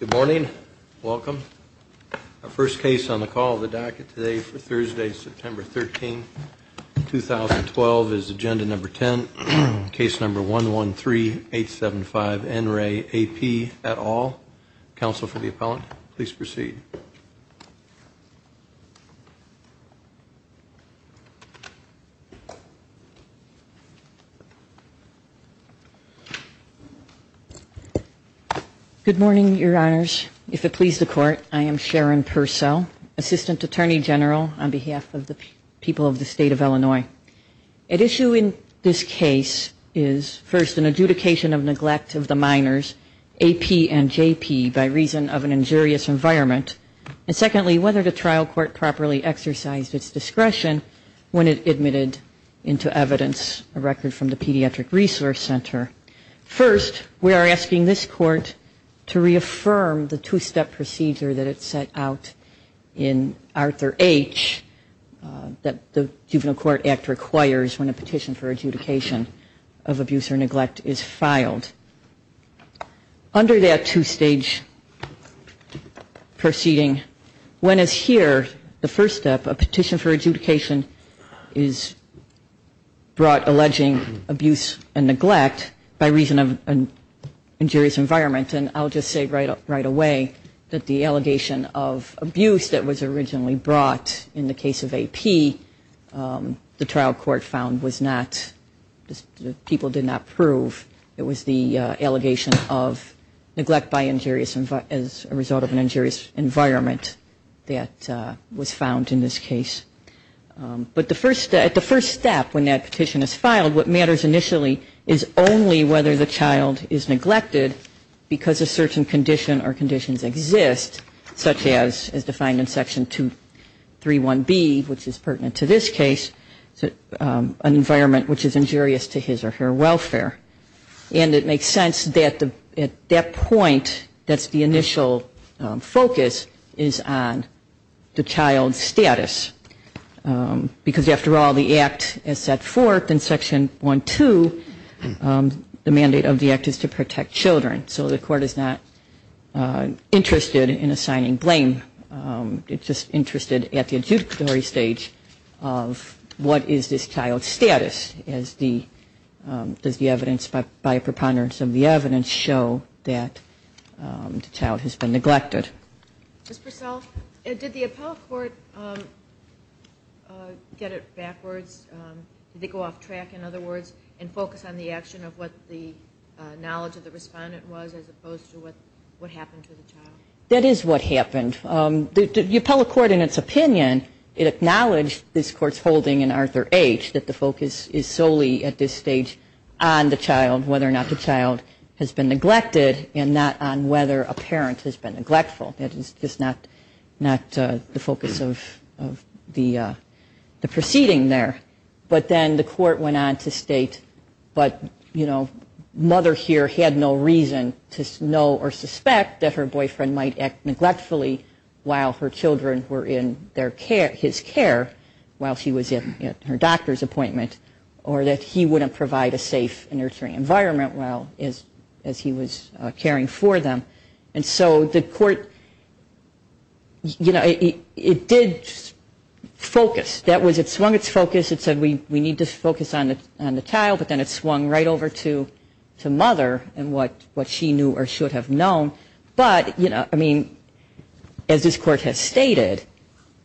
Good morning. Welcome. Our first case on the call of the docket today for Thursday, September 13, 2012, is agenda number 10. Case number 113875 N. Ray A.P. et al. Counsel for the appellant, please proceed. Good morning, Your Honors. If it please the Court, I am Sharon Purcell, Assistant Attorney General on behalf of the people of the State of Illinois. At issue in this case is, first, an adjudication of neglect of the minors, A.P. and J.P., by reason of an injurious environment. And secondly, whether the trial court properly exercised its discretion when it admitted into evidence a record from the Pediatric Resource Center. First, we are asking this Court to reaffirm the two-step procedure that it set out in Arthur H. that the Juvenile Court Act requires when a petition for adjudication of abuse or neglect is filed. Under that two-stage proceeding, when as here, the first step, a petition for adjudication is brought alleging abuse and neglect by reason of an injurious environment. And I'll just say right away that the allegation of abuse that was originally brought in the case of A.P., the trial court found was not, people did not prove it was the allegation of neglect by injurious, as a result of an injurious environment that was found in this case. But at the first step, when that petition is filed, what matters initially is only whether the child is neglected because a certain condition or conditions exist, such as is defined in Section 231B, which is pertinent to this case, an environment which is injurious to his or her welfare. And it makes sense that at that point, that's the initial focus, is on the child's status. Because after all, the Act is set forth in Section 12, the mandate of the Act is to protect children. So the Court is not interested in assigning blame. It's just interested at the adjudicatory stage of what is this child's status, as does the evidence by preponderance of the evidence show that the child has been neglected. Ms. Purcell, did the appellate court get it backwards? Did they go off track, in other words, and focus on the action of what the knowledge of the respondent was, as opposed to what happened to the child? That is what happened. The appellate court, in its opinion, it acknowledged this Court's holding in Arthur H. that the focus is solely at this stage on the child, whether or not the child has been neglected, and not on whether a parent has been neglectful. That is just not the focus of the proceeding there. But then the Court went on to state, but, you know, mother here had no reason to know or suspect that her boyfriend might act neglectfully while her children were in his care while she was at her doctor's appointment, or that he wouldn't provide a safe and nurturing environment as he was caring for them. And so the Court, you know, it did focus. It swung its focus. It said we need to focus on the child, but then it swung right over to mother and what she knew or should have known. But, you know, I mean, as this Court has stated,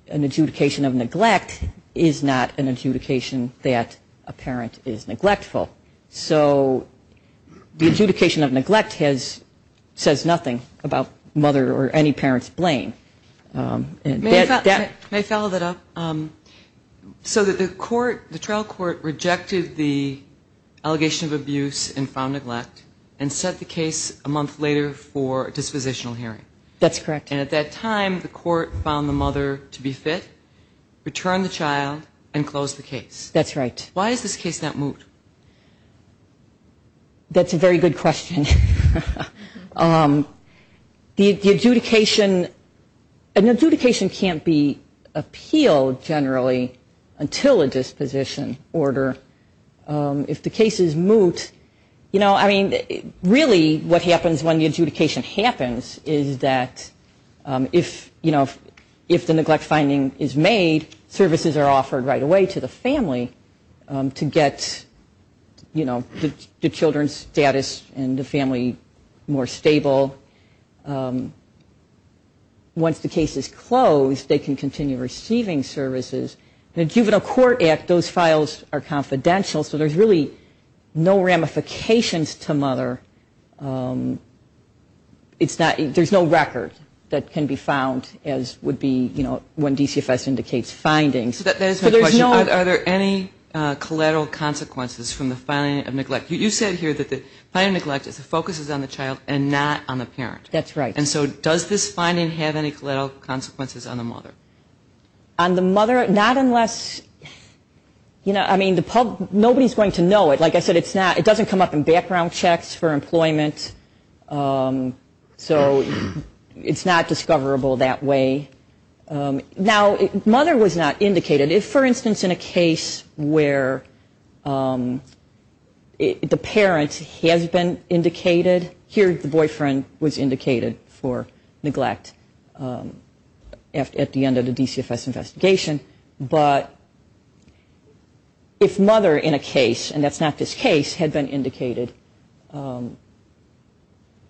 an adjudication of neglect is not an adjudication that a parent is neglectful. So the adjudication of neglect says nothing about mother or any parent's blame. May I follow that up? So the trial court rejected the allegation of abuse and found neglect and set the case a month later for a dispositional hearing. That's correct. And at that time the court found the mother to be fit, returned the child, and closed the case. That's right. Why is this case not moved? That's a very good question. The adjudication, an adjudication can't be appealed generally until a disposition order. If the case is moved, you know, I mean, really what happens when the adjudication happens is that if, you know, if the neglect finding is made, services are offered right away to the family to get, you know, the children's status and the family more stable. Once the case is closed, they can continue receiving services. In the Juvenile Court Act, those files are confidential, so there's really no ramifications to mother. It's not, there's no record that can be found as would be, you know, when DCFS indicates findings. So that is my question. Are there any collateral consequences from the filing of neglect? You said here that the filing of neglect focuses on the child and not on the parent. That's right. And so does this finding have any collateral consequences on the mother? On the mother, not unless, you know, I mean, the public, nobody's going to know it. Like I said, it's not, it doesn't come up in background checks for employment. So it's not discoverable that way. Now, mother was not indicated. If, for instance, in a case where the parent has been indicated, here the boyfriend was indicated for neglect at the end of the DCFS investigation. But if mother in a case, and that's not this case, had been indicated,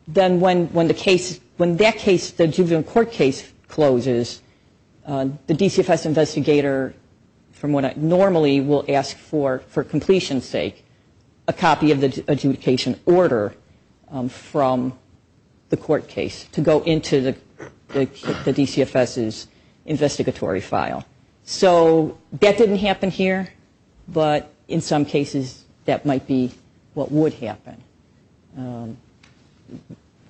then when the case, when that case, the juvenile court case closes, the DCFS investigator normally will ask for, for completion's sake, a copy of the adjudication order from the court case to go into the DCFS's investigatory file. So that didn't happen here, but in some cases that might be what would happen.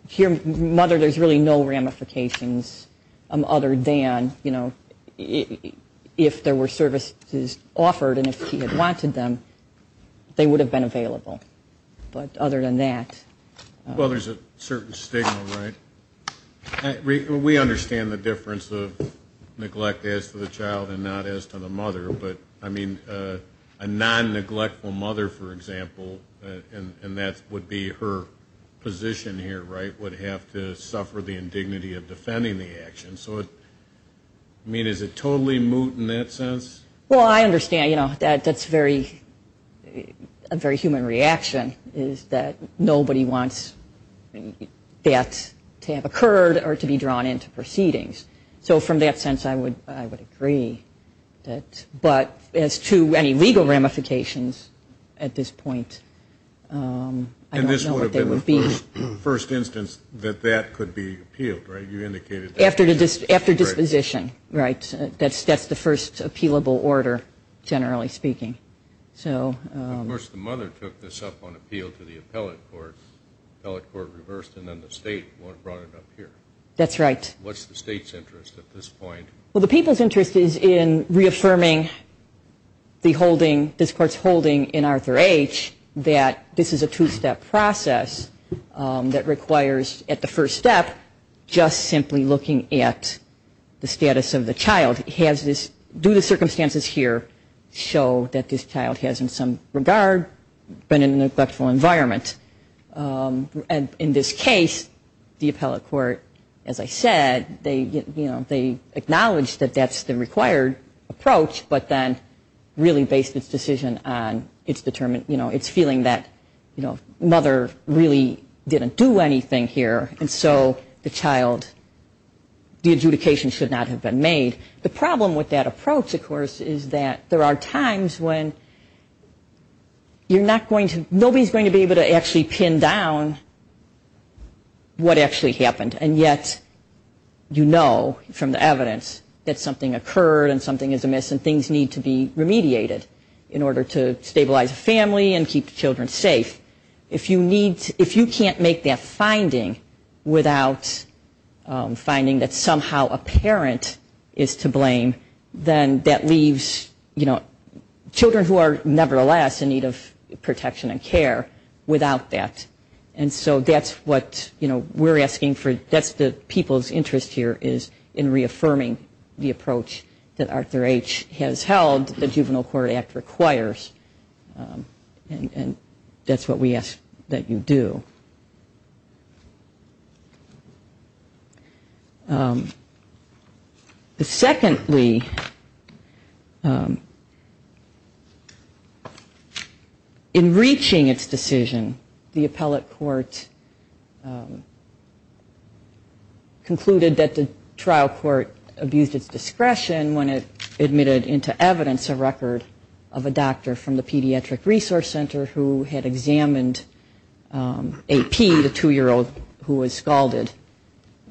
Here, mother, there's really no ramifications other than, you know, if there were services offered and if he had wanted them, they would have been available. But other than that. Well, there's a certain stigma, right? We understand the difference of neglect as to the child and not as to the mother. But, I mean, a non-neglectful mother, for example, and that would be her position here, right, would have to suffer the indignity of defending the action. So, I mean, is it totally moot in that sense? Well, I understand, you know, that's a very human reaction, is that nobody wants that to have occurred or to be drawn into proceedings. So from that sense, I would agree. But as to any legal ramifications at this point, I don't know what they would be. And this would have been the first instance that that could be appealed, right? You indicated that. After disposition, right? That's the first appealable order, generally speaking. Of course, the mother took this up on appeal to the appellate court. The appellate court reversed it, and then the state brought it up here. That's right. What's the state's interest at this point? Well, the people's interest is in reaffirming this Court's holding in Arthur H. that this is a two-step process that requires, at the first step, just simply looking at the status of the child. Do the circumstances here show that this child has, in some regard, been in a neglectful environment? And in this case, the appellate court, as I said, they acknowledged that that's the required approach, but then really based its decision on its feeling that, you know, mother really didn't do anything here, and so the child, the adjudication should not have been made. The problem with that approach, of course, is that there are times when you're not going to, nobody's going to be able to actually pin down what actually happened, and yet you know from the evidence that something occurred and something is amiss and things need to be remediated in order to stabilize the family and keep the children safe. If you can't make that finding without finding that somehow a parent is to blame, then that leaves, you know, children who are nevertheless in need of protection and care without that. And so that's what, you know, we're asking for, that's the people's interest here is in reaffirming the approach that Arthur H. has held the Juvenile Court Act requires, and that's what we ask that you do. Secondly, in reaching its decision, the appellate court concluded that the trial court abused its discretion when it admitted into evidence a record of a doctor from the Pediatric Resource Center who had examined A.P., the two-year-old who was scalded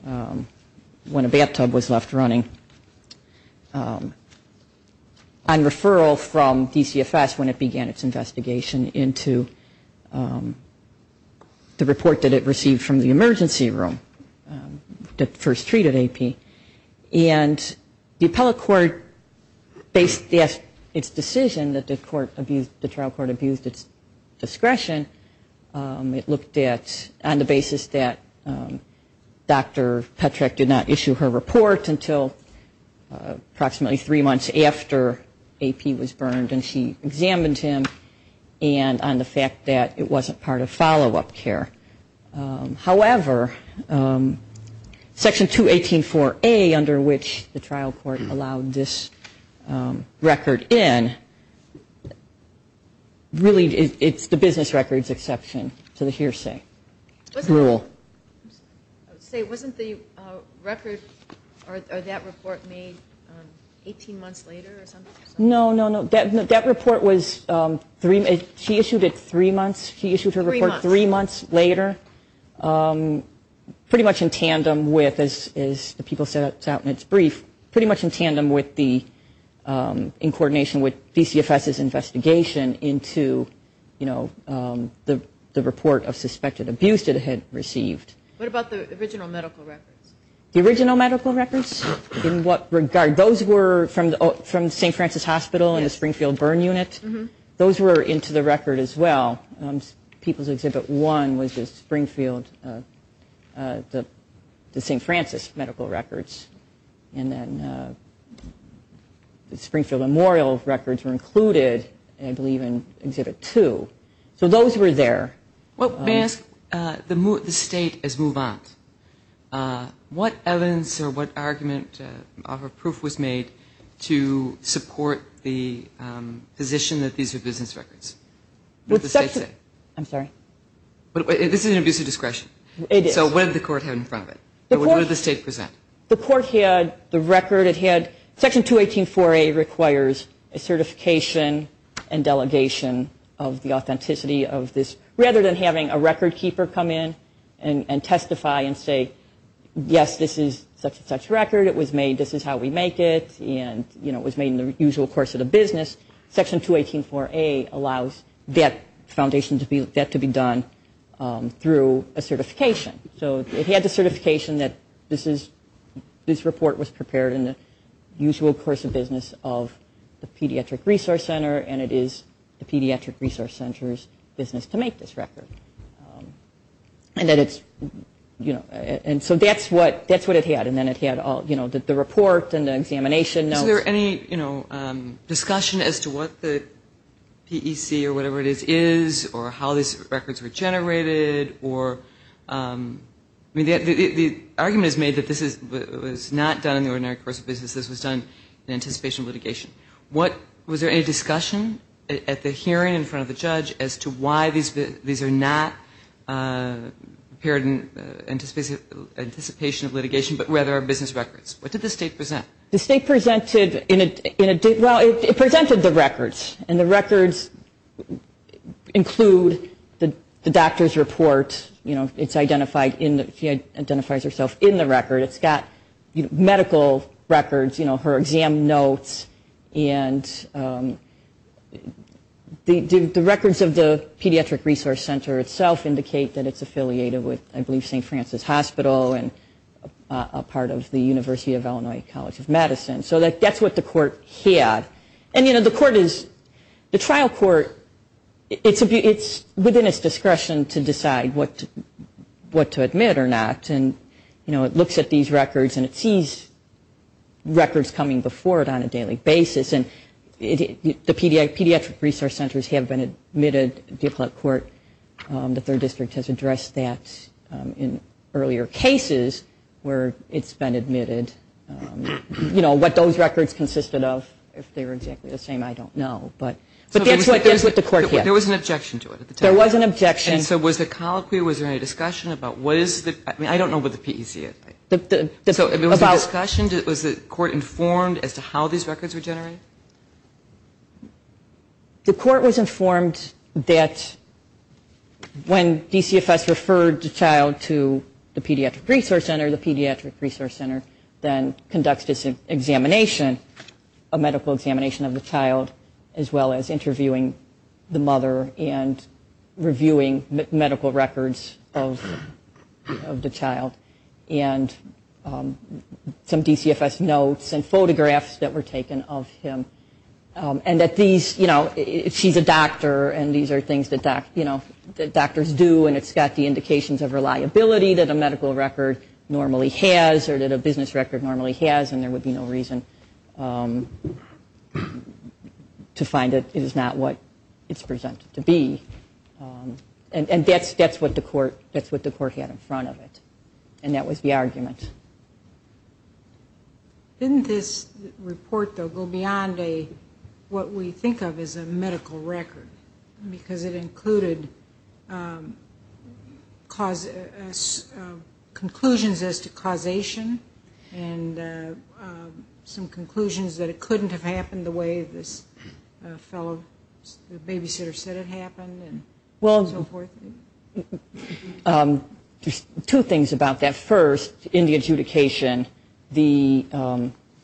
when a bathtub was left running, on referral from DCFS when it began its investigation into the report that it received from the emergency room that first treated A.P. And the appellate court based its decision that the trial court abused its discretion, it looked at on the basis that Dr. Petrak did not issue her report until approximately three months after A.P. was burned and she examined him and on the fact that it wasn't part of follow-up care. However, Section 218.4.A, under which the trial court allowed this record in, really it's the business records exception to the hearsay rule. Say, wasn't the record or that report made 18 months later or something? No, no, no. That report was, she issued it three months, she issued her report three months later, pretty much in tandem with, as the people set out in its brief, pretty much in tandem with the, in coordination with DCFS's investigation into the report of suspected abuse it had received. What about the original medical records? The original medical records? In what regard? Those were from the St. Francis Hospital and the Springfield Burn Unit? Those were into the record as well. People's Exhibit 1 was the Springfield, the St. Francis medical records and then the Springfield Memorial records were included, I believe, in Exhibit 2. So those were there. Well, may I ask, the state has moved on. What evidence or what argument or proof was made to support the position that these were business records? What did the state say? I'm sorry? This is an abuse of discretion. It is. So what did the court have in front of it? What did the state present? The court had the record, it had Section 218-4A requires a certification and delegation of the authenticity of this, rather than having a record keeper come in and testify and say, yes, this is such and such record, it was made, this is how we make it, and it was made in the usual course of the business. Section 218-4A allows that foundation to be done through a certification. So it had the certification that this report was prepared in the usual course of business of the Pediatric Resource Center and it is the Pediatric Resource Center's business to make this record. And that it's, you know, and so that's what it had. And then it had all, you know, the report and the examination notes. Is there any, you know, discussion as to what the PEC or whatever it is, is or how these records were generated or, I mean, the argument is made that this was not done in the ordinary course of business. This was done in anticipation of litigation. Was there any discussion at the hearing in front of the judge as to why these are not prepared in anticipation of litigation, but rather are business records? What did the state present? The state presented, well, it presented the records, and the records include the doctor's report. You know, it's identified in the, she identifies herself in the record. It's got medical records, you know, her exam notes, and the records of the Pediatric Resource Center itself indicate that it's affiliated with, I believe, St. Francis Hospital and a part of the University of Illinois College of Medicine. So that's what the court had. And, you know, the court is, the trial court, it's within its discretion to decide what to admit or not. And, you know, it looks at these records and it sees records coming before it on a daily basis. And the Pediatric Resource Centers have been admitted, the appellate court, the third district has addressed that in earlier cases where it's been admitted. You know, what those records consisted of, if they were exactly the same, I don't know, but that's what the court had. There was an objection to it at the time. There was an objection. And so was the colloquy, was there any discussion about what is the, I mean, I don't know about the PEC. So was there discussion, was the court informed as to how these records were generated? The court was informed that when DCFS referred the child to the Pediatric Resource Center, the Pediatric Resource Center then conducts this examination, a medical examination of the child, as well as interviewing the mother and reviewing medical records of the child and some DCFS notes and photographs that were taken of him. And that these, you know, she's a doctor and these are things that doctors do and it's got the indications of reliability that a medical record normally has or that a business record normally has and there would be no reason to find that it is not what it's presented to be. And that's what the court had in front of it. And that was the argument. Didn't this report, though, go beyond what we think of as a medical record because it included conclusions as to causation and some conclusions that it couldn't have happened the way this fellow, the babysitter said it happened and so forth? Well, two things about that. First, in the adjudication, the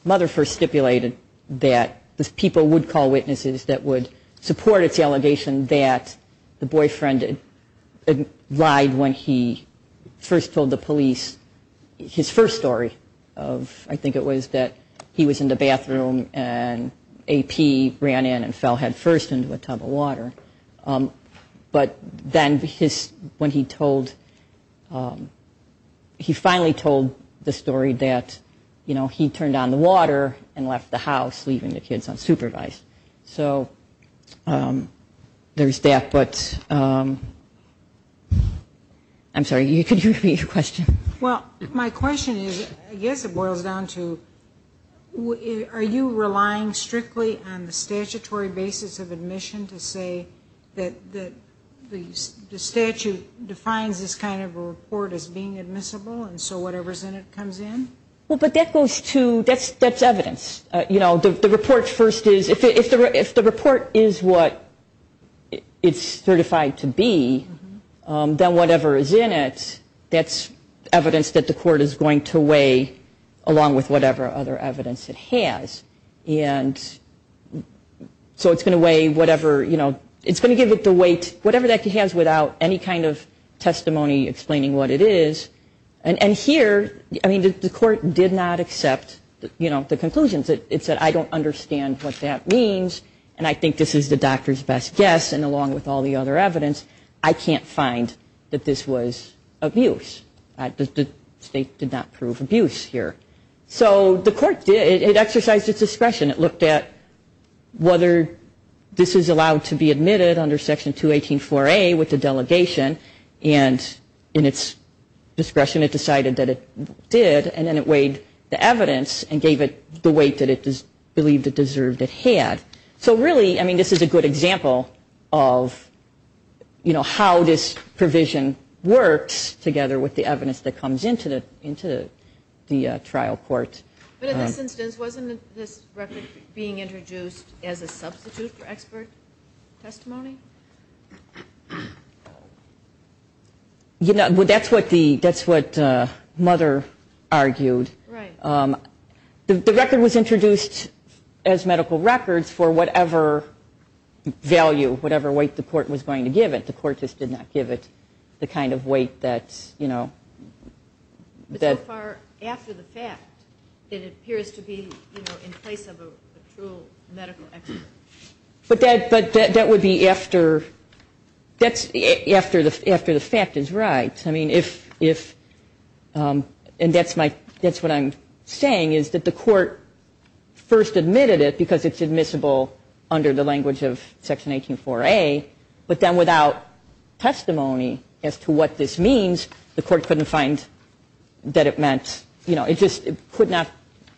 mother first stipulated that the people would call witnesses that would support its allegation that the boyfriend lied when he first told the police his first story of, I think it was that he was in the bathroom and AP ran in and fell headfirst into a tub of water. But then when he told, he finally told the story that, you know, he turned on the water and left the house leaving the kids unsupervised. So there's that. But I'm sorry, could you repeat your question? Well, my question is, I guess it boils down to, are you relying strictly on the statutory basis of admission to say that the statute defines this kind of a report as being admissible and so whatever's in it comes in? Well, but that goes to, that's evidence. You know, the report first is, if the report is what it's certified to be, then whatever is in it, that's evidence that the court is going to weigh along with whatever other evidence it has. And so it's going to weigh whatever, you know, it's going to give it the weight, whatever that has without any kind of testimony explaining what it is. And here, I mean, the court did not accept, you know, the conclusions. It said, I don't understand what that means and I think this is the doctor's best guess and along with all the other evidence, I can't find that this was abuse. The state did not prove abuse here. So the court did, it exercised its discretion. It looked at whether this is allowed to be admitted under Section 218-4A with the delegation and in its discretion it decided that it did and then it weighed the evidence and gave it the weight that it believed it deserved it had. So really, I mean, this is a good example of, you know, how this provision works together with the evidence that comes into the trial court. But in this instance, wasn't this record being introduced as a substitute for expert testimony? You know, that's what the, that's what Mother argued. Right. The record was introduced as medical records for whatever value, whatever weight the court was going to give it. The court just did not give it the kind of weight that, you know, that. So far, after the fact, it appears to be, you know, in place of a true medical expert. But that would be after, that's after the fact is right. I mean, if, and that's my, that's what I'm saying is that the court first admitted it because it's admissible under the language of Section 18-4A, but then without testimony as to what this means, the court couldn't find that it meant, you know, it just could not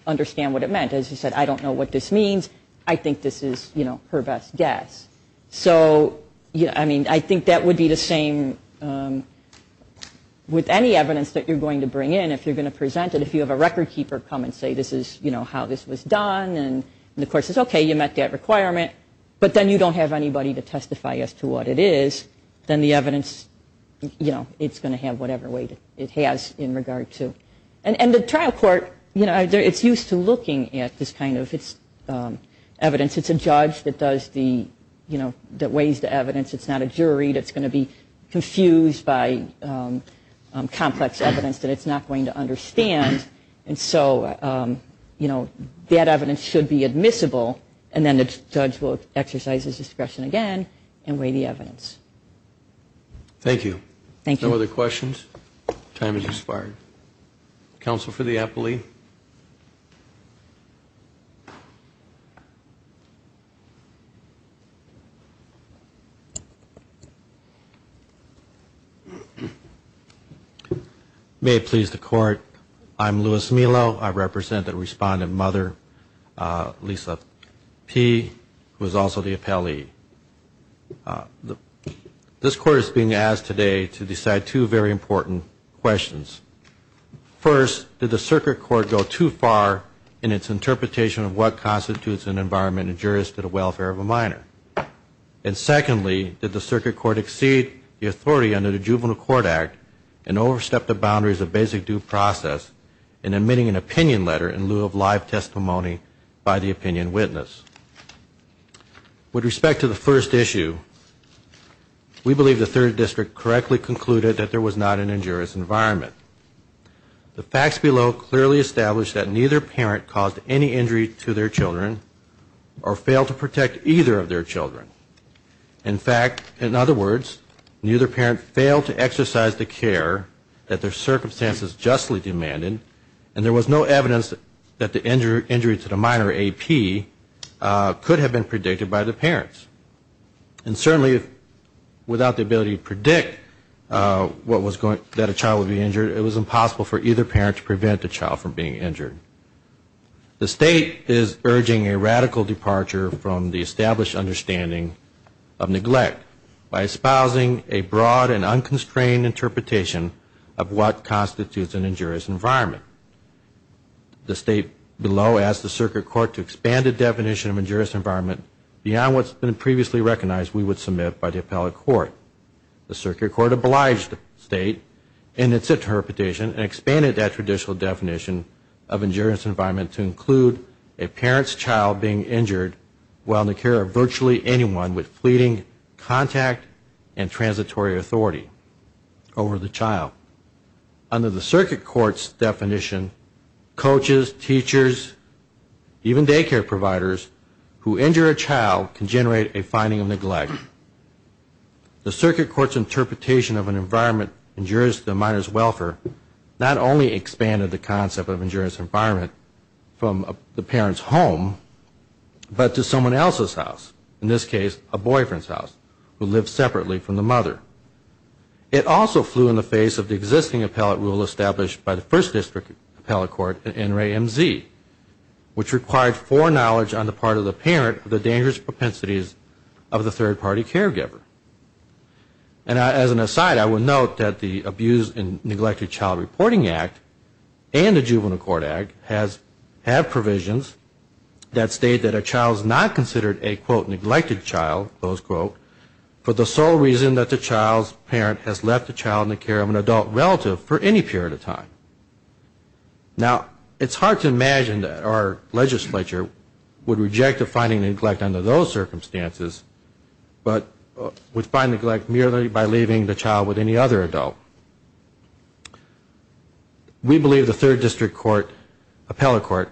understand what it meant. As you said, I don't know what this means. I think this is, you know, her best guess. So, you know, I mean, I think that would be the same with any evidence that you're going to bring in. If you're going to present it, if you have a record keeper come and say this is, you know, how this was done and the court says, okay, you met that requirement, but then you don't have anybody to testify as to what it is, then the evidence, you know, it's going to have whatever weight it has in regard to. And the trial court, you know, it's used to looking at this kind of evidence. It's a judge that does the, you know, that weighs the evidence. It's not a jury that's going to be confused by complex evidence that it's not going to understand. And so, you know, that evidence should be admissible and then the judge will exercise his discretion again and weigh the evidence. Thank you. Thank you. No other questions? Time has expired. Counsel for the appellee. May it please the court. I'm Louis Melo. I represent the respondent mother, Lisa P., who is also the appellee. This court is being asked today to decide two very important questions. in its interpretation of what constitutes an environment injurious to the welfare of a minor? And secondly, did the circuit court exceed the authority under the Juvenile Court Act and overstep the boundaries of basic due process in admitting an opinion letter in lieu of live testimony by the opinion witness? With respect to the first issue, we believe the third district correctly concluded that there was not an injurious environment. The facts below clearly establish that neither parent caused any injury to their children or failed to protect either of their children. In fact, in other words, neither parent failed to exercise the care that their circumstances justly demanded and there was no evidence that the injury to the minor AP could have been predicted by the parents. And certainly, without the ability to predict that a child would be injured, it was impossible for either parent to prevent a child from being injured. The state is urging a radical departure from the established understanding of neglect by espousing a broad and unconstrained interpretation of what constitutes an injurious environment. The state below asked the circuit court to expand the definition of injurious environment beyond what's been previously recognized we would submit by the appellate court. The circuit court obliged the state in its interpretation and expanded that traditional definition of injurious environment to include a parent's child being injured while in the care of virtually anyone with fleeting contact and transitory authority over the child. Under the circuit court's definition, coaches, teachers, even daycare providers who injure a child can generate a finding of neglect. The circuit court's interpretation of an environment injurious to the minor's welfare not only expanded the concept of injurious environment from the parent's home but to someone else's house, in this case a boyfriend's house, who lived separately from the mother. It also flew in the face of the existing appellate rule established by the first district appellate court, NRAMZ, which required foreknowledge on the part of the parent of the dangerous propensities of the third-party caregiver. And as an aside, I will note that the Abuse and Neglected Child Reporting Act and the Juvenile Court Act have provisions that state that a child is not considered a, quote, neglected child, close quote, for the sole reason that the child's parent has left the child in the care Now, it's hard to imagine that our legislature would reject a finding of neglect under those circumstances but would find neglect merely by leaving the child with any other adult. We believe the third district court appellate court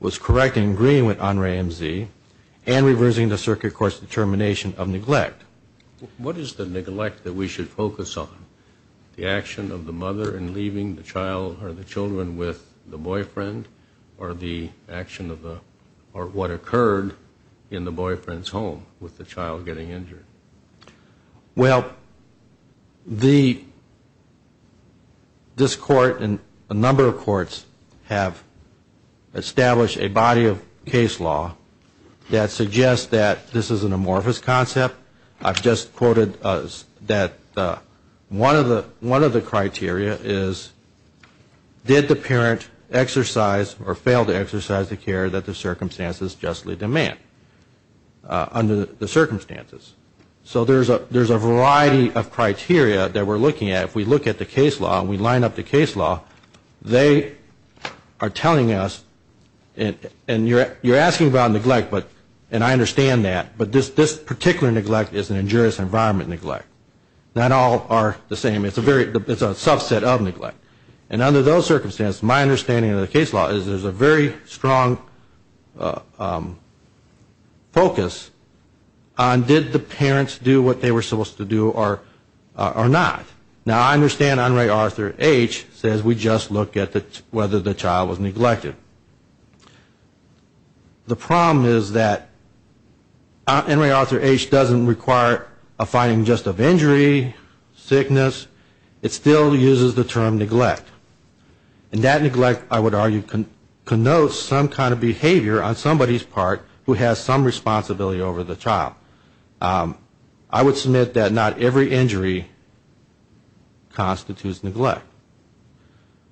was correct in agreeing with NRAMZ and reversing the circuit court's determination of neglect. What is the neglect that we should focus on? The action of the mother in leaving the child or the children with the boyfriend or the action of the, or what occurred in the boyfriend's home with the child getting injured? Well, the, this court and a number of courts have established a body of case law that suggests that this is an amorphous concept. I've just quoted that one of the criteria is did the parent exercise or fail to exercise the care that the circumstances justly demand under the circumstances. So there's a variety of criteria that we're looking at. If we look at the case law and we line up the case law, they are telling us, and you're asking about neglect but, and I understand that, but this particular neglect is an injurious environment neglect. Not all are the same. It's a very, it's a subset of neglect. And under those circumstances, my understanding of the case law is there's a very strong focus on did the parents do what they were supposed to do or not. Now, I understand Enri Arthur H. says we just look at whether the child was neglected. The problem is that Enri Arthur H. doesn't require a finding just of injury, sickness. It still uses the term neglect. And that neglect, I would argue, connotes some kind of behavior on somebody's part who has some responsibility over the child. I would submit that not every injury constitutes neglect.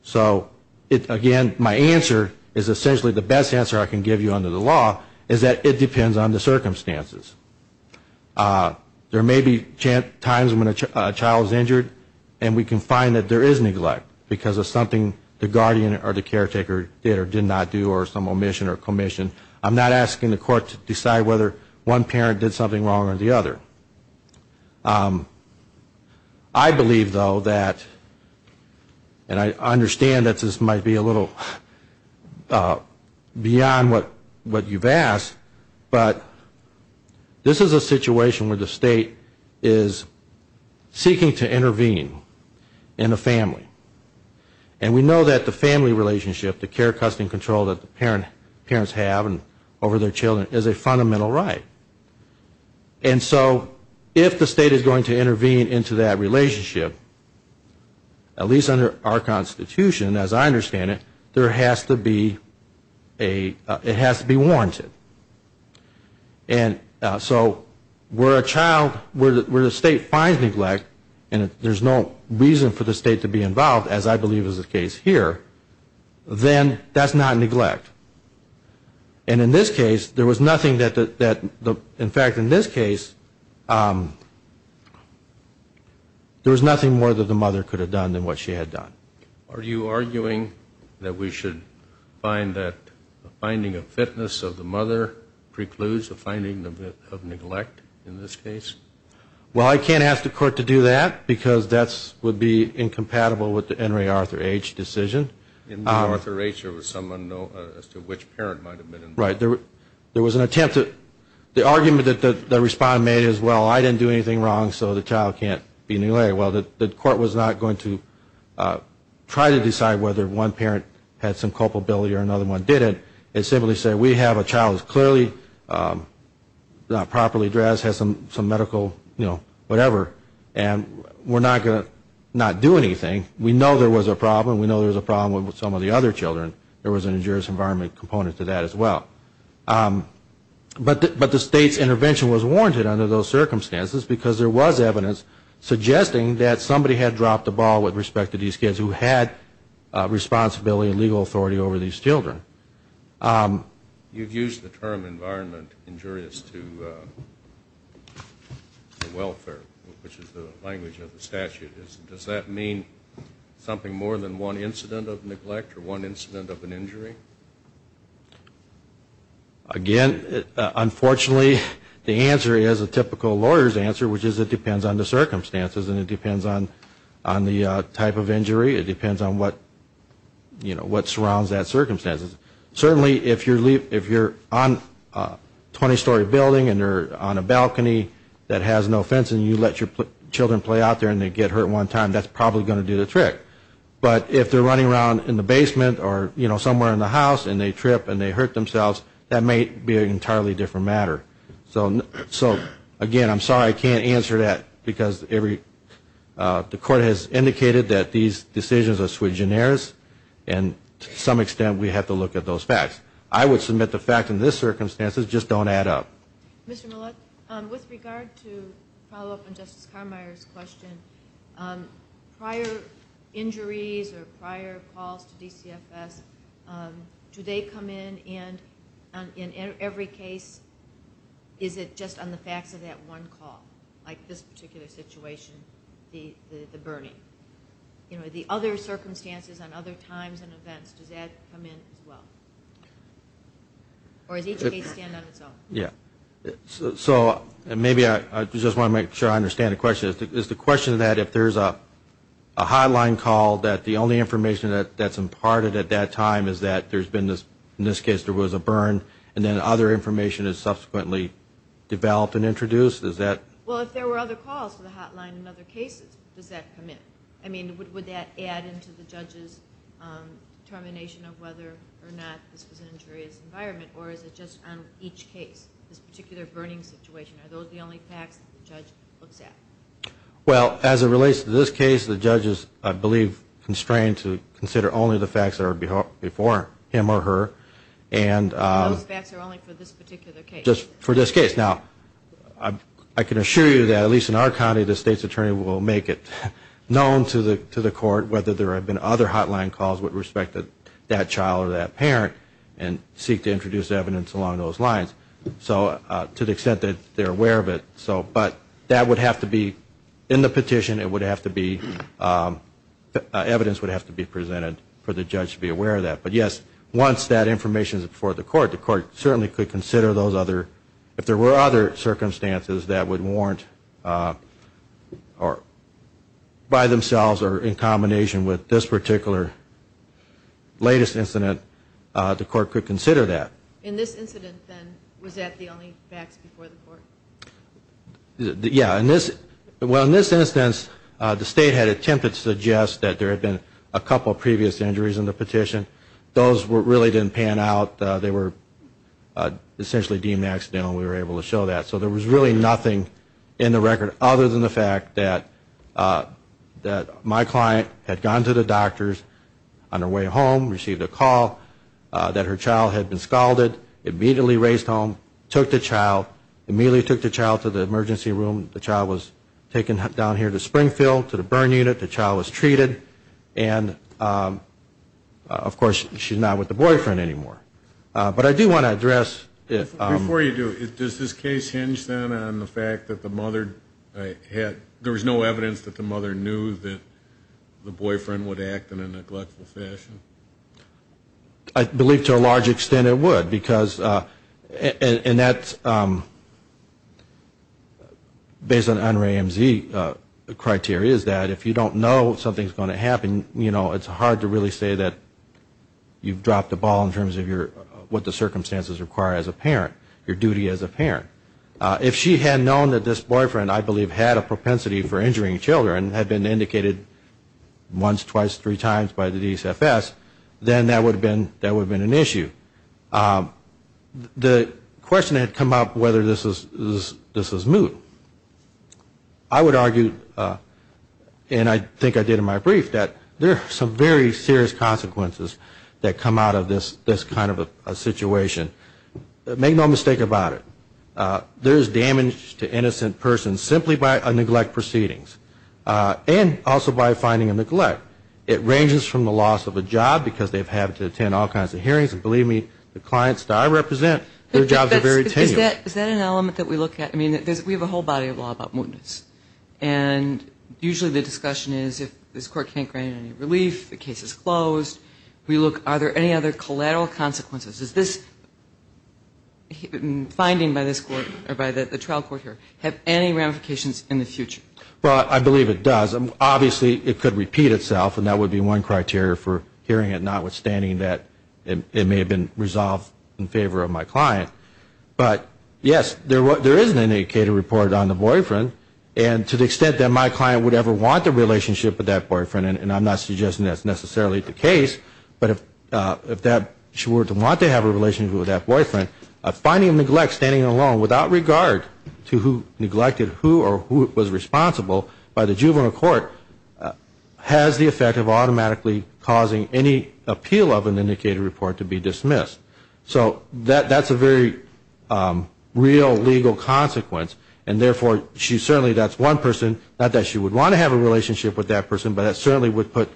So, again, my answer is essentially the best answer I can give you under the law is that it depends on the circumstances. There may be times when a child is injured and we can find that there is neglect because of something the guardian or the caretaker did or did not do or some omission or commission. I'm not asking the court to decide whether one parent did something wrong or the other. I believe, though, that, and I understand that this might be a little beyond what you've asked, but this is a situation where the state is seeking to intervene in a family. And we know that the family relationship, the care, custody and control that the parents have over their children is a fundamental right. And so if the state is going to intervene into that relationship, at least under our Constitution, as I understand it, there has to be a, it has to be warranted. And so where a child, where the state finds neglect, and there's no reason for the state to be involved, as I believe is the case here, then that's not neglect. And in this case, there was nothing that, in fact, in this case, there was nothing more that the mother could have done than what she had done. Are you arguing that we should find that the finding of fitness of the mother precludes the finding of neglect in this case? Well, I can't ask the court to do that, because that would be incompatible with the Henry Arthur H. decision. In Arthur H., there was some unknown as to which parent might have been involved. Right. There was an attempt to, the argument that the respondent made is, well, I didn't do anything wrong, so the child can't be neglected. Well, the court was not going to try to decide whether one parent had some culpability or another one didn't. It simply said, we have a child who's clearly not properly dressed, has some medical, you know, whatever, and we're not going to not do anything. We know there was a problem. We know there was a problem with some of the other children. There was an injurious environment component to that as well. But the state's intervention was warranted under those circumstances, because there was evidence suggesting that somebody had dropped the ball with respect to these kids who had responsibility and legal authority over these children. You've used the term environment injurious to welfare, which is the language of the statute. Does that mean something more than one incident of neglect or one incident of an injury? Again, unfortunately, the answer is a typical lawyer's answer, which is it depends on the circumstances and it depends on the type of injury. It depends on what, you know, what surrounds that circumstance. Certainly, if you're on a 20-story building and you're on a balcony that has no fence and you let your children play out there and they get hurt one time, that's probably going to do the trick. But if they're running around in the basement or, you know, somewhere in the house and they trip and they hurt themselves, that may be an entirely different matter. So, again, I'm sorry I can't answer that because the court has indicated that these decisions are sui generis and to some extent we have to look at those facts. I would submit the fact in this circumstances just don't add up. Mr. Millett, with regard to follow-up on Justice Carmeier's question, prior injuries or prior calls to DCFS, do they come in and in every case is it just on the facts of that one call, like this particular situation, the burning? You know, the other circumstances and other times and events, does that come in as well? Or does each case stand on its own? Yeah. So maybe I just want to make sure I understand the question. Is the question that if there's a hotline call that the only information that's imparted at that time is that there's been, in this case, there was a burn and then other information is subsequently developed and introduced? Well, if there were other calls to the hotline in other cases, does that come in? I mean, would that add into the judge's determination of whether or not this was an injurious environment or is it just on each case, this particular burning situation? Are those the only facts that the judge looks at? Well, as it relates to this case, the judge is, I believe, constrained to consider only the facts that are before him or her. Those facts are only for this particular case? Just for this case. Now, I can assure you that, at least in our county, the state's attorney will make it known to the court whether there have been other hotline calls with respect to that child or that parent and seek to introduce evidence along those lines. To the extent that they're aware of it. But that would have to be, in the petition, it would have to be, evidence would have to be presented for the judge to be aware of that. But yes, once that information is before the court, the court certainly could consider those other, if there were other circumstances that would warrant, by themselves or in combination with this particular latest incident, the court could consider that. In this incident, then, was that the only facts before the court? Yeah. Well, in this instance, the state had attempted to suggest that there had been a couple of previous injuries in the petition. Those really didn't pan out. They were essentially deemed accidental. We were able to show that. So there was really nothing in the record other than the fact that my client had gone to the doctor's on her way home, received a call that her child had been scalded, immediately raised home, took the child, immediately took the child to the emergency room. The child was taken down here to Springfield to the burn unit. The child was treated. And, of course, she's not with the boyfriend anymore. But I do want to address. Before you do, does this case hinge, then, on the fact that the mother had, there was no evidence that the mother knew that the boyfriend would act in a neglectful fashion? I believe to a large extent it would because, and that's based on NREMZ criteria, is that if you don't know something's going to happen, you know, it's hard to really say that you've dropped the ball in terms of what the circumstances require as a parent, your duty as a parent. If she had known that this boyfriend, I believe, had a propensity for injuring children, had been indicated once, twice, three times by the DSFS, then that would have been an issue. The question had come up whether this was moot. I would argue, and I think I did in my brief, that there are some very serious consequences that come out of this kind of a situation. Make no mistake about it. There is damage to innocent persons simply by a neglect proceedings and also by finding a neglect. It ranges from the loss of a job because they've had to attend all kinds of hearings, and believe me, the clients that I represent, their jobs are very tenuous. Is that an element that we look at? I mean, we have a whole body of law about mootness, and usually the discussion is if this court can't grant any relief, the case is closed, are there any other collateral consequences? Does this finding by the trial court here have any ramifications in the future? Well, I believe it does. Obviously, it could repeat itself, and that would be one criteria for hearing it, notwithstanding that it may have been resolved in favor of my client. But, yes, there is an indicator reported on the boyfriend, and to the extent that my client would ever want the relationship with that boyfriend, and I'm not suggesting that's necessarily the case, but if she were to want to have a relationship with that boyfriend, a finding of neglect standing alone without regard to who neglected who or who was responsible by the juvenile court has the effect of automatically causing any appeal of an indicator report to be dismissed. So that's a very real legal consequence, and therefore she certainly, that's one person, not that she would want to have a relationship with that person, but that certainly would put,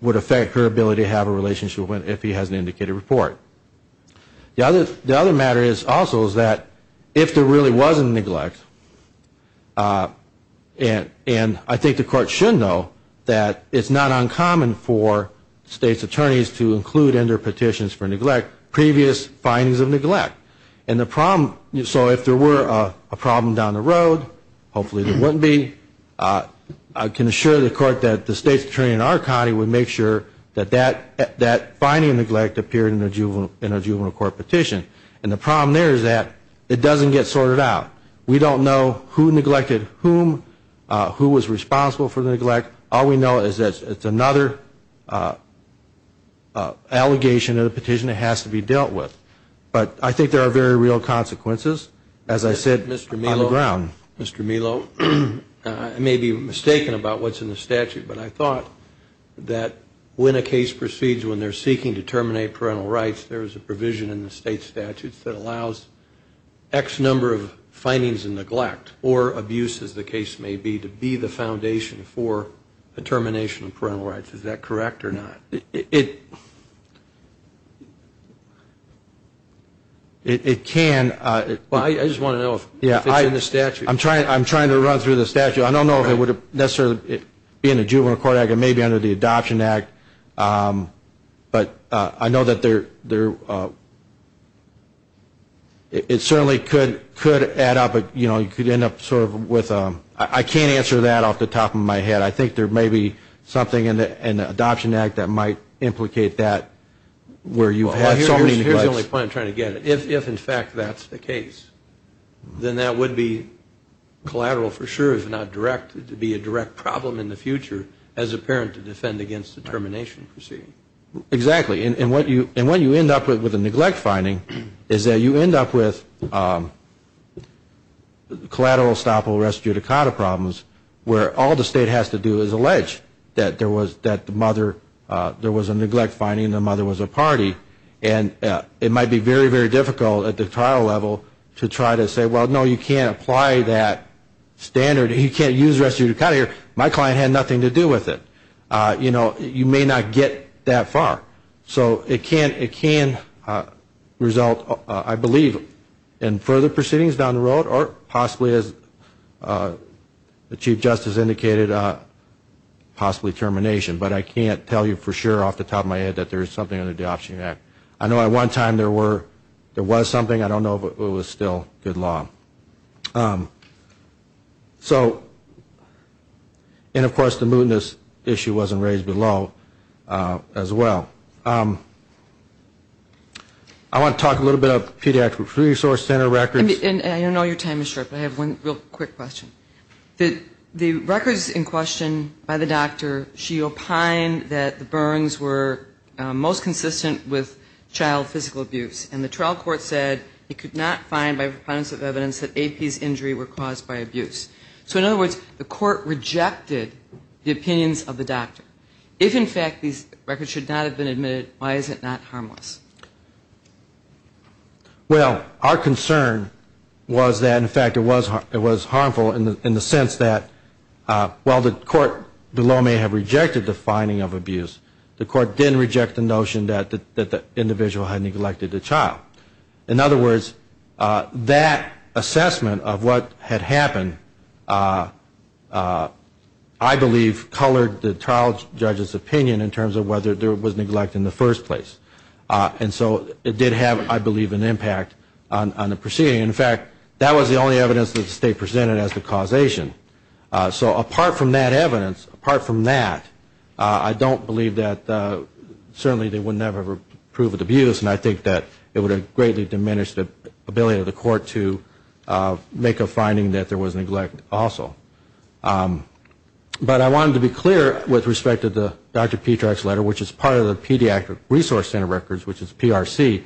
would affect her ability to have a relationship if he has an indicator report. The other matter also is that if there really was a neglect, and I think the court should know that it's not uncommon for states' attorneys to include in their petitions for neglect previous findings of neglect. And the problem, so if there were a problem down the road, hopefully there wouldn't be, I can assure the court that the states' attorney in our county would make sure that that finding of neglect appeared in a juvenile court petition. And the problem there is that it doesn't get sorted out. We don't know who neglected whom, who was responsible for the neglect. All we know is that it's another allegation of the petition that has to be dealt with. But I think there are very real consequences, as I said, on the ground. Mr. Melo, I may be mistaken about what's in the statute, but I thought that when a case proceeds when they're seeking to terminate parental rights, there is a provision in the state statutes that allows X number of findings of neglect or abuse, as the case may be, to be the foundation for the termination of parental rights. Is that correct or not? It can. I just want to know if it's in the statute. I'm trying to run through the statute. I don't know if it would necessarily be in the Juvenile Court Act. It may be under the Adoption Act. But I know that there, it certainly could add up, you know, you could end up sort of with, I can't answer that off the top of my head. I think there may be something in the Adoption Act that might implicate that where you have so many neglects. Here's the only point I'm trying to get at. If, in fact, that's the case, then that would be collateral for sure, if not direct to be a direct problem in the future as a parent to defend against the termination proceeding. Exactly. And what you end up with with a neglect finding is that you end up with collateral, restitutacata problems where all the state has to do is allege that there was a neglect finding and the mother was a party. And it might be very, very difficult at the trial level to try to say, well, no, you can't apply that standard. You can't use restitutacata here. My client had nothing to do with it. You know, you may not get that far. So it can result, I believe, in further proceedings down the road or possibly, as the Chief Justice indicated, possibly termination. But I can't tell you for sure off the top of my head that there is something under the Adoption Act. I know at one time there was something. I don't know if it was still good law. So and, of course, the mootness issue wasn't raised below as well. I want to talk a little bit about the Pediatric Resource Center records. And I know your time is short, but I have one real quick question. The records in question by the doctor, she opined that the Burns were most consistent with child physical abuse. And the trial court said it could not find by proponents of evidence that AP's injury were caused by abuse. So, in other words, the court rejected the opinions of the doctor. If, in fact, these records should not have been admitted, why is it not harmless? Well, our concern was that, in fact, it was harmful in the sense that, while the court below may have rejected the finding of abuse, the court didn't reject the notion that the individual had neglected the child. In other words, that assessment of what had happened, I believe, colored the trial judge's opinion in terms of whether there was neglect in the first place. And so it did have, I believe, an impact on the proceeding. In fact, that was the only evidence that the state presented as the causation. So apart from that evidence, apart from that, I don't believe that certainly they would never approve of the abuse. And I think that it would have greatly diminished the ability of the court to make a finding that there was neglect also. But I wanted to be clear with respect to the Dr. Petrak's letter, which is part of the Pediatric Resource Center records, which is PRC,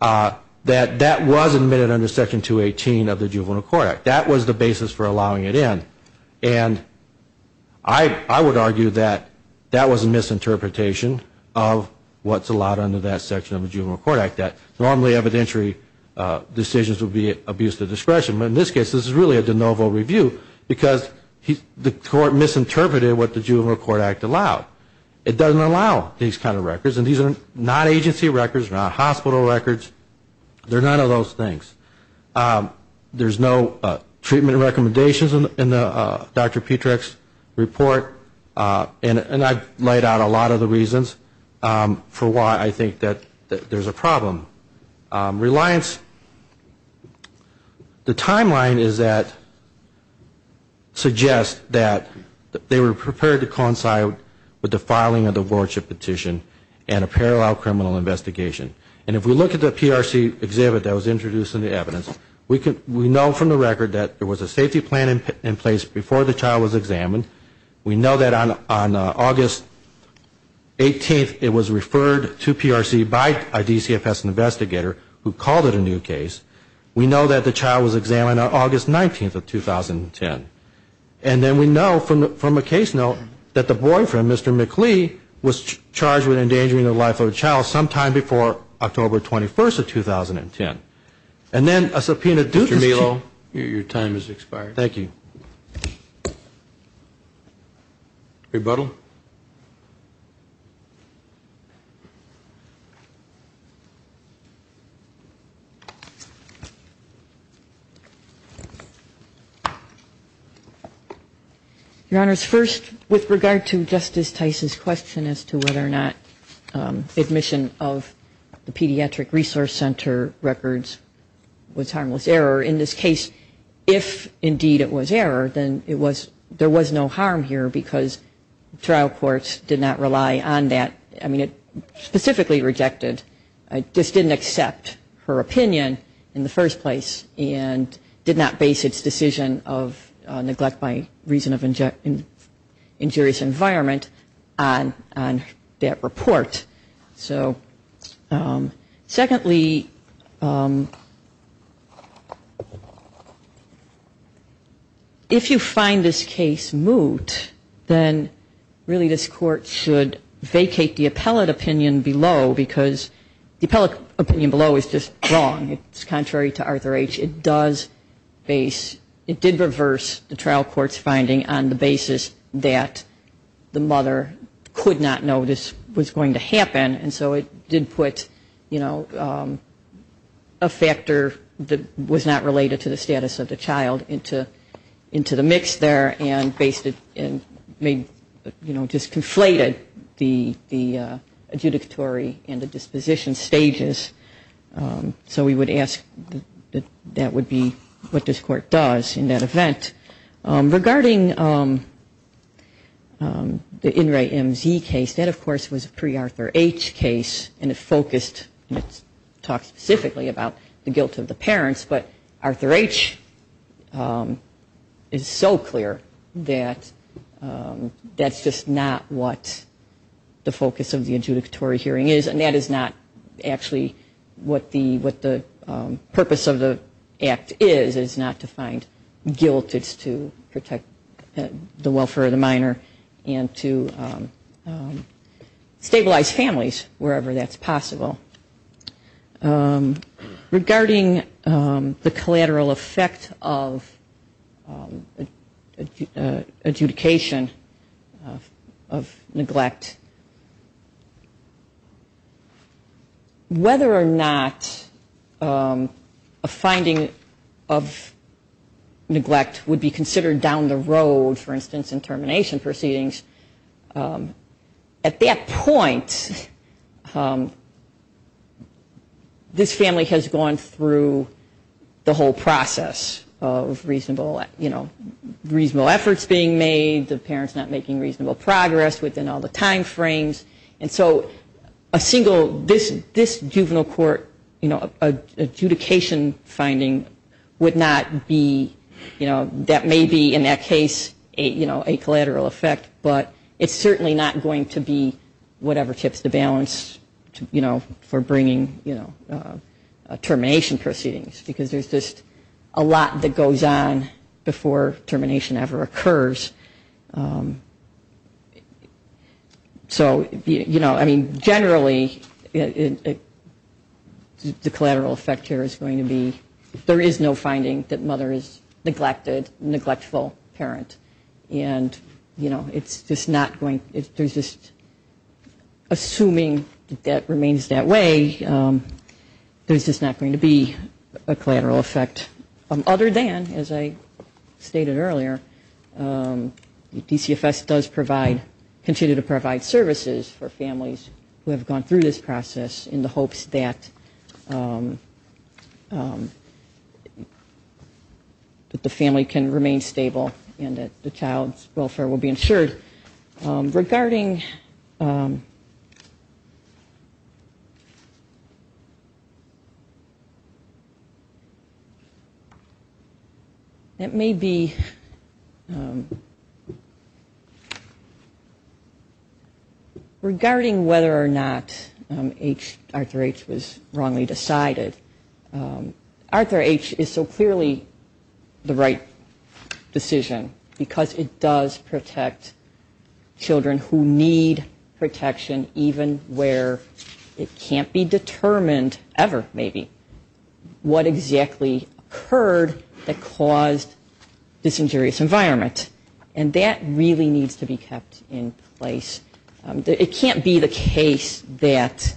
that that was admitted under Section 218 of the Juvenile Court Act. That was the basis for allowing it in. And I would argue that that was a misinterpretation of what's allowed under that section of the Juvenile Court Act, that normally evidentiary decisions would be abuse of discretion. But in this case, this is really a de novo review, because the court misinterpreted what the Juvenile Court Act allowed. It doesn't allow these kind of records. And these are not agency records, not hospital records. They're none of those things. There's no treatment recommendations in the Dr. Petrak's report. And I've laid out a lot of the reasons for why I think that there's a problem. Reliance, the timeline is that, suggests that they were prepared to coincide with the filing of the Wardship Petition and a parallel criminal investigation. And if we look at the PRC exhibit that was introduced in the evidence, we know from the record that there was a safety plan in place before the child was examined. We know that on August 18th, it was referred to PRC by a DCFS investigator who called it a new case. We know that the child was examined on August 19th of 2010. And then we know from a case note that the boyfriend, Mr. McLee, was charged with endangering the life of a child sometime before October 21st of 2010. And then a subpoena due to... Mr. Melo, your time has expired. Thank you. Rebuttal. Your Honors, first, with regard to Justice Tice's question as to whether or not admission of the Pediatric Resource Center records was harmless error, in this case, if indeed it was error, then it was, there was no harm here and the trial court did not rely on that, I mean it specifically rejected, just didn't accept her opinion in the first place and did not base its decision of neglect by reason of injurious environment on that report. So, secondly, if you find this case moot, then really this court should vacate the appellate opinion below because the appellate opinion below is just wrong. It's contrary to Arthur H. It does base, it did reverse the trial court's finding on the basis that the mother could not know this was going to happen and so it did put, you know, a factor that was not related to the status of the child into the mix there and based it, you know, just conflated the adjudicatory and the disposition stages. So we would ask that that would be what this court does in that event. Regarding the In re MZ case, that of course was a pre-Arthur H. case and it focused, it talked specifically about the guilt of the parents but Arthur H. is so clear that that's just not what the focus of the adjudicatory hearing is and that is not actually what the purpose of the act is, is not to find guilt, it's to protect the welfare of the minor and to stabilize families wherever that's possible. Regarding the collateral effect of adjudication of neglect, whether or not a finding of neglect would be considered down the road, for instance in termination proceedings, at that point this family has gone through the whole process of reasonable, you know, reasonable efforts being made, the parents not making reasonable progress within all the time frames and so a single, this juvenile court adjudication finding would not be, that may be in that case a collateral effect but it's certainly not going to be whatever tips the balance for bringing termination proceedings because there's just a lot that goes on before termination ever occurs so, you know, I mean generally the collateral effect here is going to be, there is no finding that mother is neglected, neglectful parent and, you know, it's just not going, there's just, assuming that remains that way, there's just not going to be a collateral effect other than, as I stated earlier, DCFS does provide, continue to provide services for families who have gone through this process in the hopes that the family can remain stable and that the child's welfare will be ensured. Regarding... It may be... Regarding whether or not Arthur H. was wrongly decided, Arthur H. is so clearly the right decision because it does protect children who need protection even where it can't be determined ever maybe what exactly occurred that caused this injurious environment and that really needs to be kept in place. It can't be the case that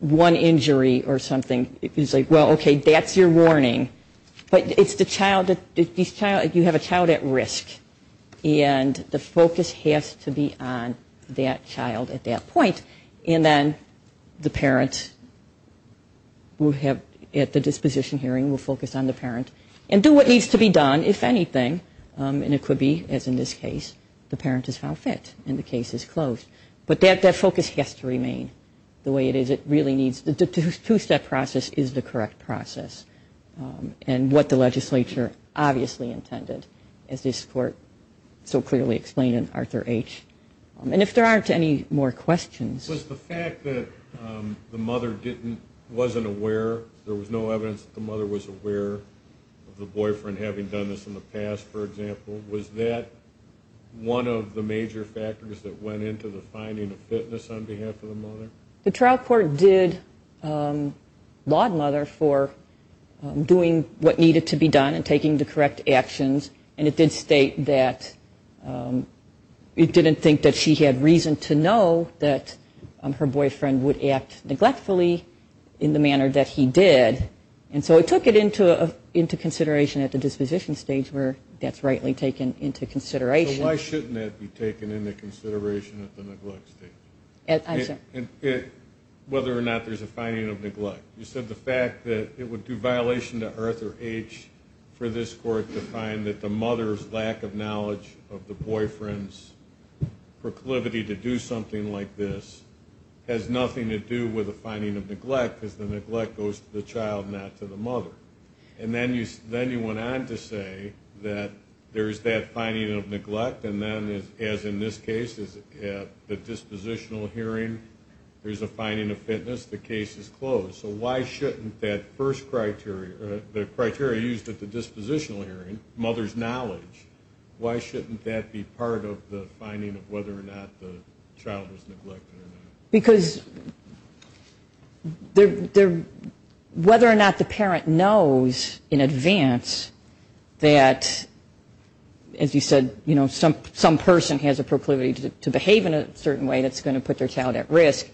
one injury or something is like, well, okay, that's your warning, but it's the child, you have a child at risk and the focus has to be on that child at that point and then the parent will have to at the disposition hearing will focus on the parent and do what needs to be done if anything and it could be, as in this case, the parent is found fit and the case is closed. But that focus has to remain the way it is, it really needs, the two-step process is the correct process and what the legislature obviously intended as this court so clearly explained in Arthur H. And if there aren't any more questions... There was no evidence that the mother was aware of the boyfriend having done this in the past, for example, was that one of the major factors that went into the finding of fitness on behalf of the mother? The trial court did laud mother for doing what needed to be done and taking the correct actions and it did state that it didn't think that she had reason to know that her boyfriend would act neglectfully in the manner that he did and so it took it into consideration at the disposition stage where that's rightly taken into consideration. So why shouldn't that be taken into consideration at the neglect stage? Whether or not there's a finding of neglect, you said the fact that it would do violation to Arthur H. for this court to find that the mother's lack of knowledge of the boyfriend's proclivity to do something like this has nothing to do with the finding of neglect because the neglect goes to the child, not to the mother. And then you went on to say that there's that finding of neglect and then as in this case at the dispositional hearing there's a finding of fitness, the case is closed. So why shouldn't that first criteria, the criteria used at the dispositional hearing, the mother's knowledge, why shouldn't that be part of the finding of whether or not the child was neglected or not? Because whether or not the parent knows in advance that, as you said, some person has a proclivity to behave in a certain way that's going to put their child at risk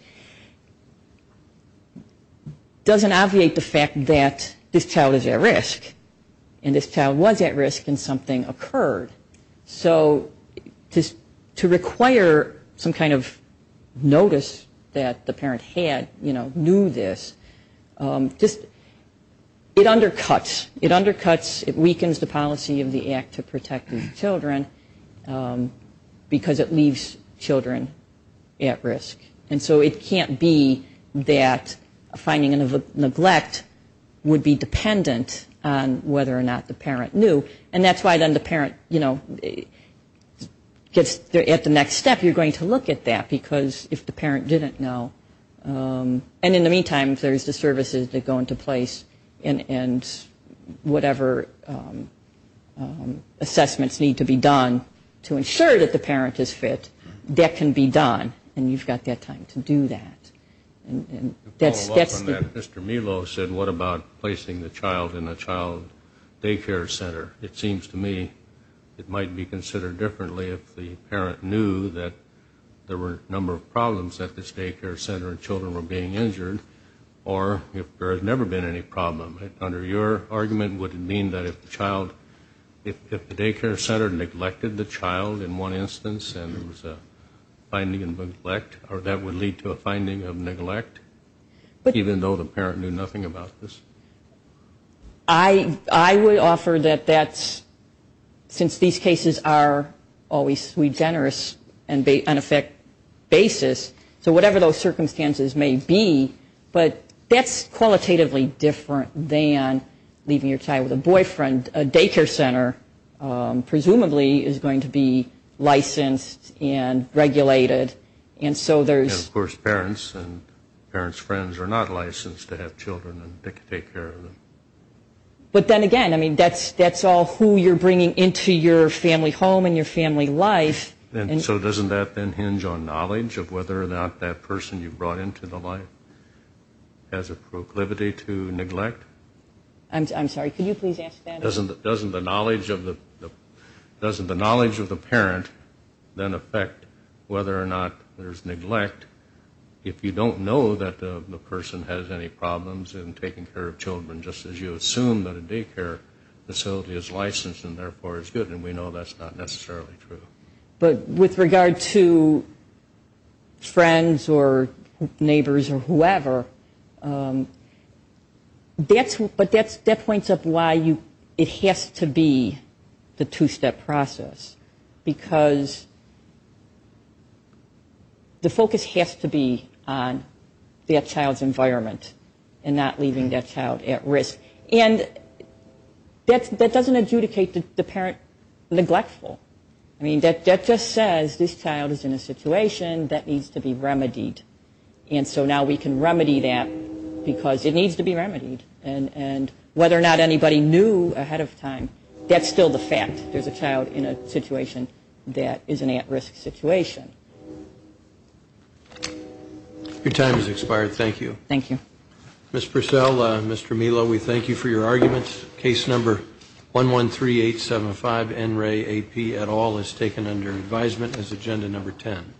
doesn't obviate the fact that this child is at risk and this child was at risk and something occurred. So to require some kind of notice that the parent had, knew this, it undercuts. It undercuts, it weakens the policy of the Act to Protecting Children because it leaves children at risk. And so it can't be that a finding of neglect would be dependent on whether or not the parent knew. And that's why then the parent, you know, at the next step you're going to look at that because if the parent didn't know, and in the meantime if there's the services that go into place and whatever assessments need to be done to ensure that the parent is fit, that can be done and you've got that time to do that. Mr. Melo said what about placing the child in a child daycare center? It seems to me it might be considered differently if the parent knew that there were a number of problems at this daycare center and children were being injured, or if there had never been any problem. Under your argument, would it mean that if the child, if the daycare center neglected the child in one instance and there was a finding of neglect, or that would lead to a finding of neglect, even though the parent knew nothing about this? I would offer that that's, since these cases are always regenerous and on a fixed basis, so whatever those circumstances may be, but that's qualitatively different than leaving your child with a boyfriend. A daycare center presumably is going to be licensed and regulated, and so there's... Yes, of course, parents and parents' friends are not licensed to have children and take care of them. But then again, I mean, that's all who you're bringing into your family home and your family life. And so doesn't that then hinge on knowledge of whether or not that person you brought into the life has a proclivity to neglect? I'm sorry, could you please ask that? Doesn't the knowledge of the parent then affect whether or not there's neglect if you don't know that the person has any problems in taking care of children, just as you assume that a daycare facility is licensed and therefore is good? And we know that's not necessarily true. But with regard to friends or neighbors or whoever, but that points up why it has to be the two-step process, because the focus has to be on that child's environment and not leaving that child at risk. And that doesn't adjudicate the parent neglectful. I mean, that just says this child is in a situation that needs to be remedied. And so now we can remedy that because it needs to be remedied. And whether or not anybody knew ahead of time, that's still the fact. There's a child in a situation that is an at-risk situation. Your time has expired. Thank you. Ms. Purcell, Mr. Melo, we thank you for your arguments. Case number 113875, Enray, A.P. et al., is taken under advisement as agenda number 10.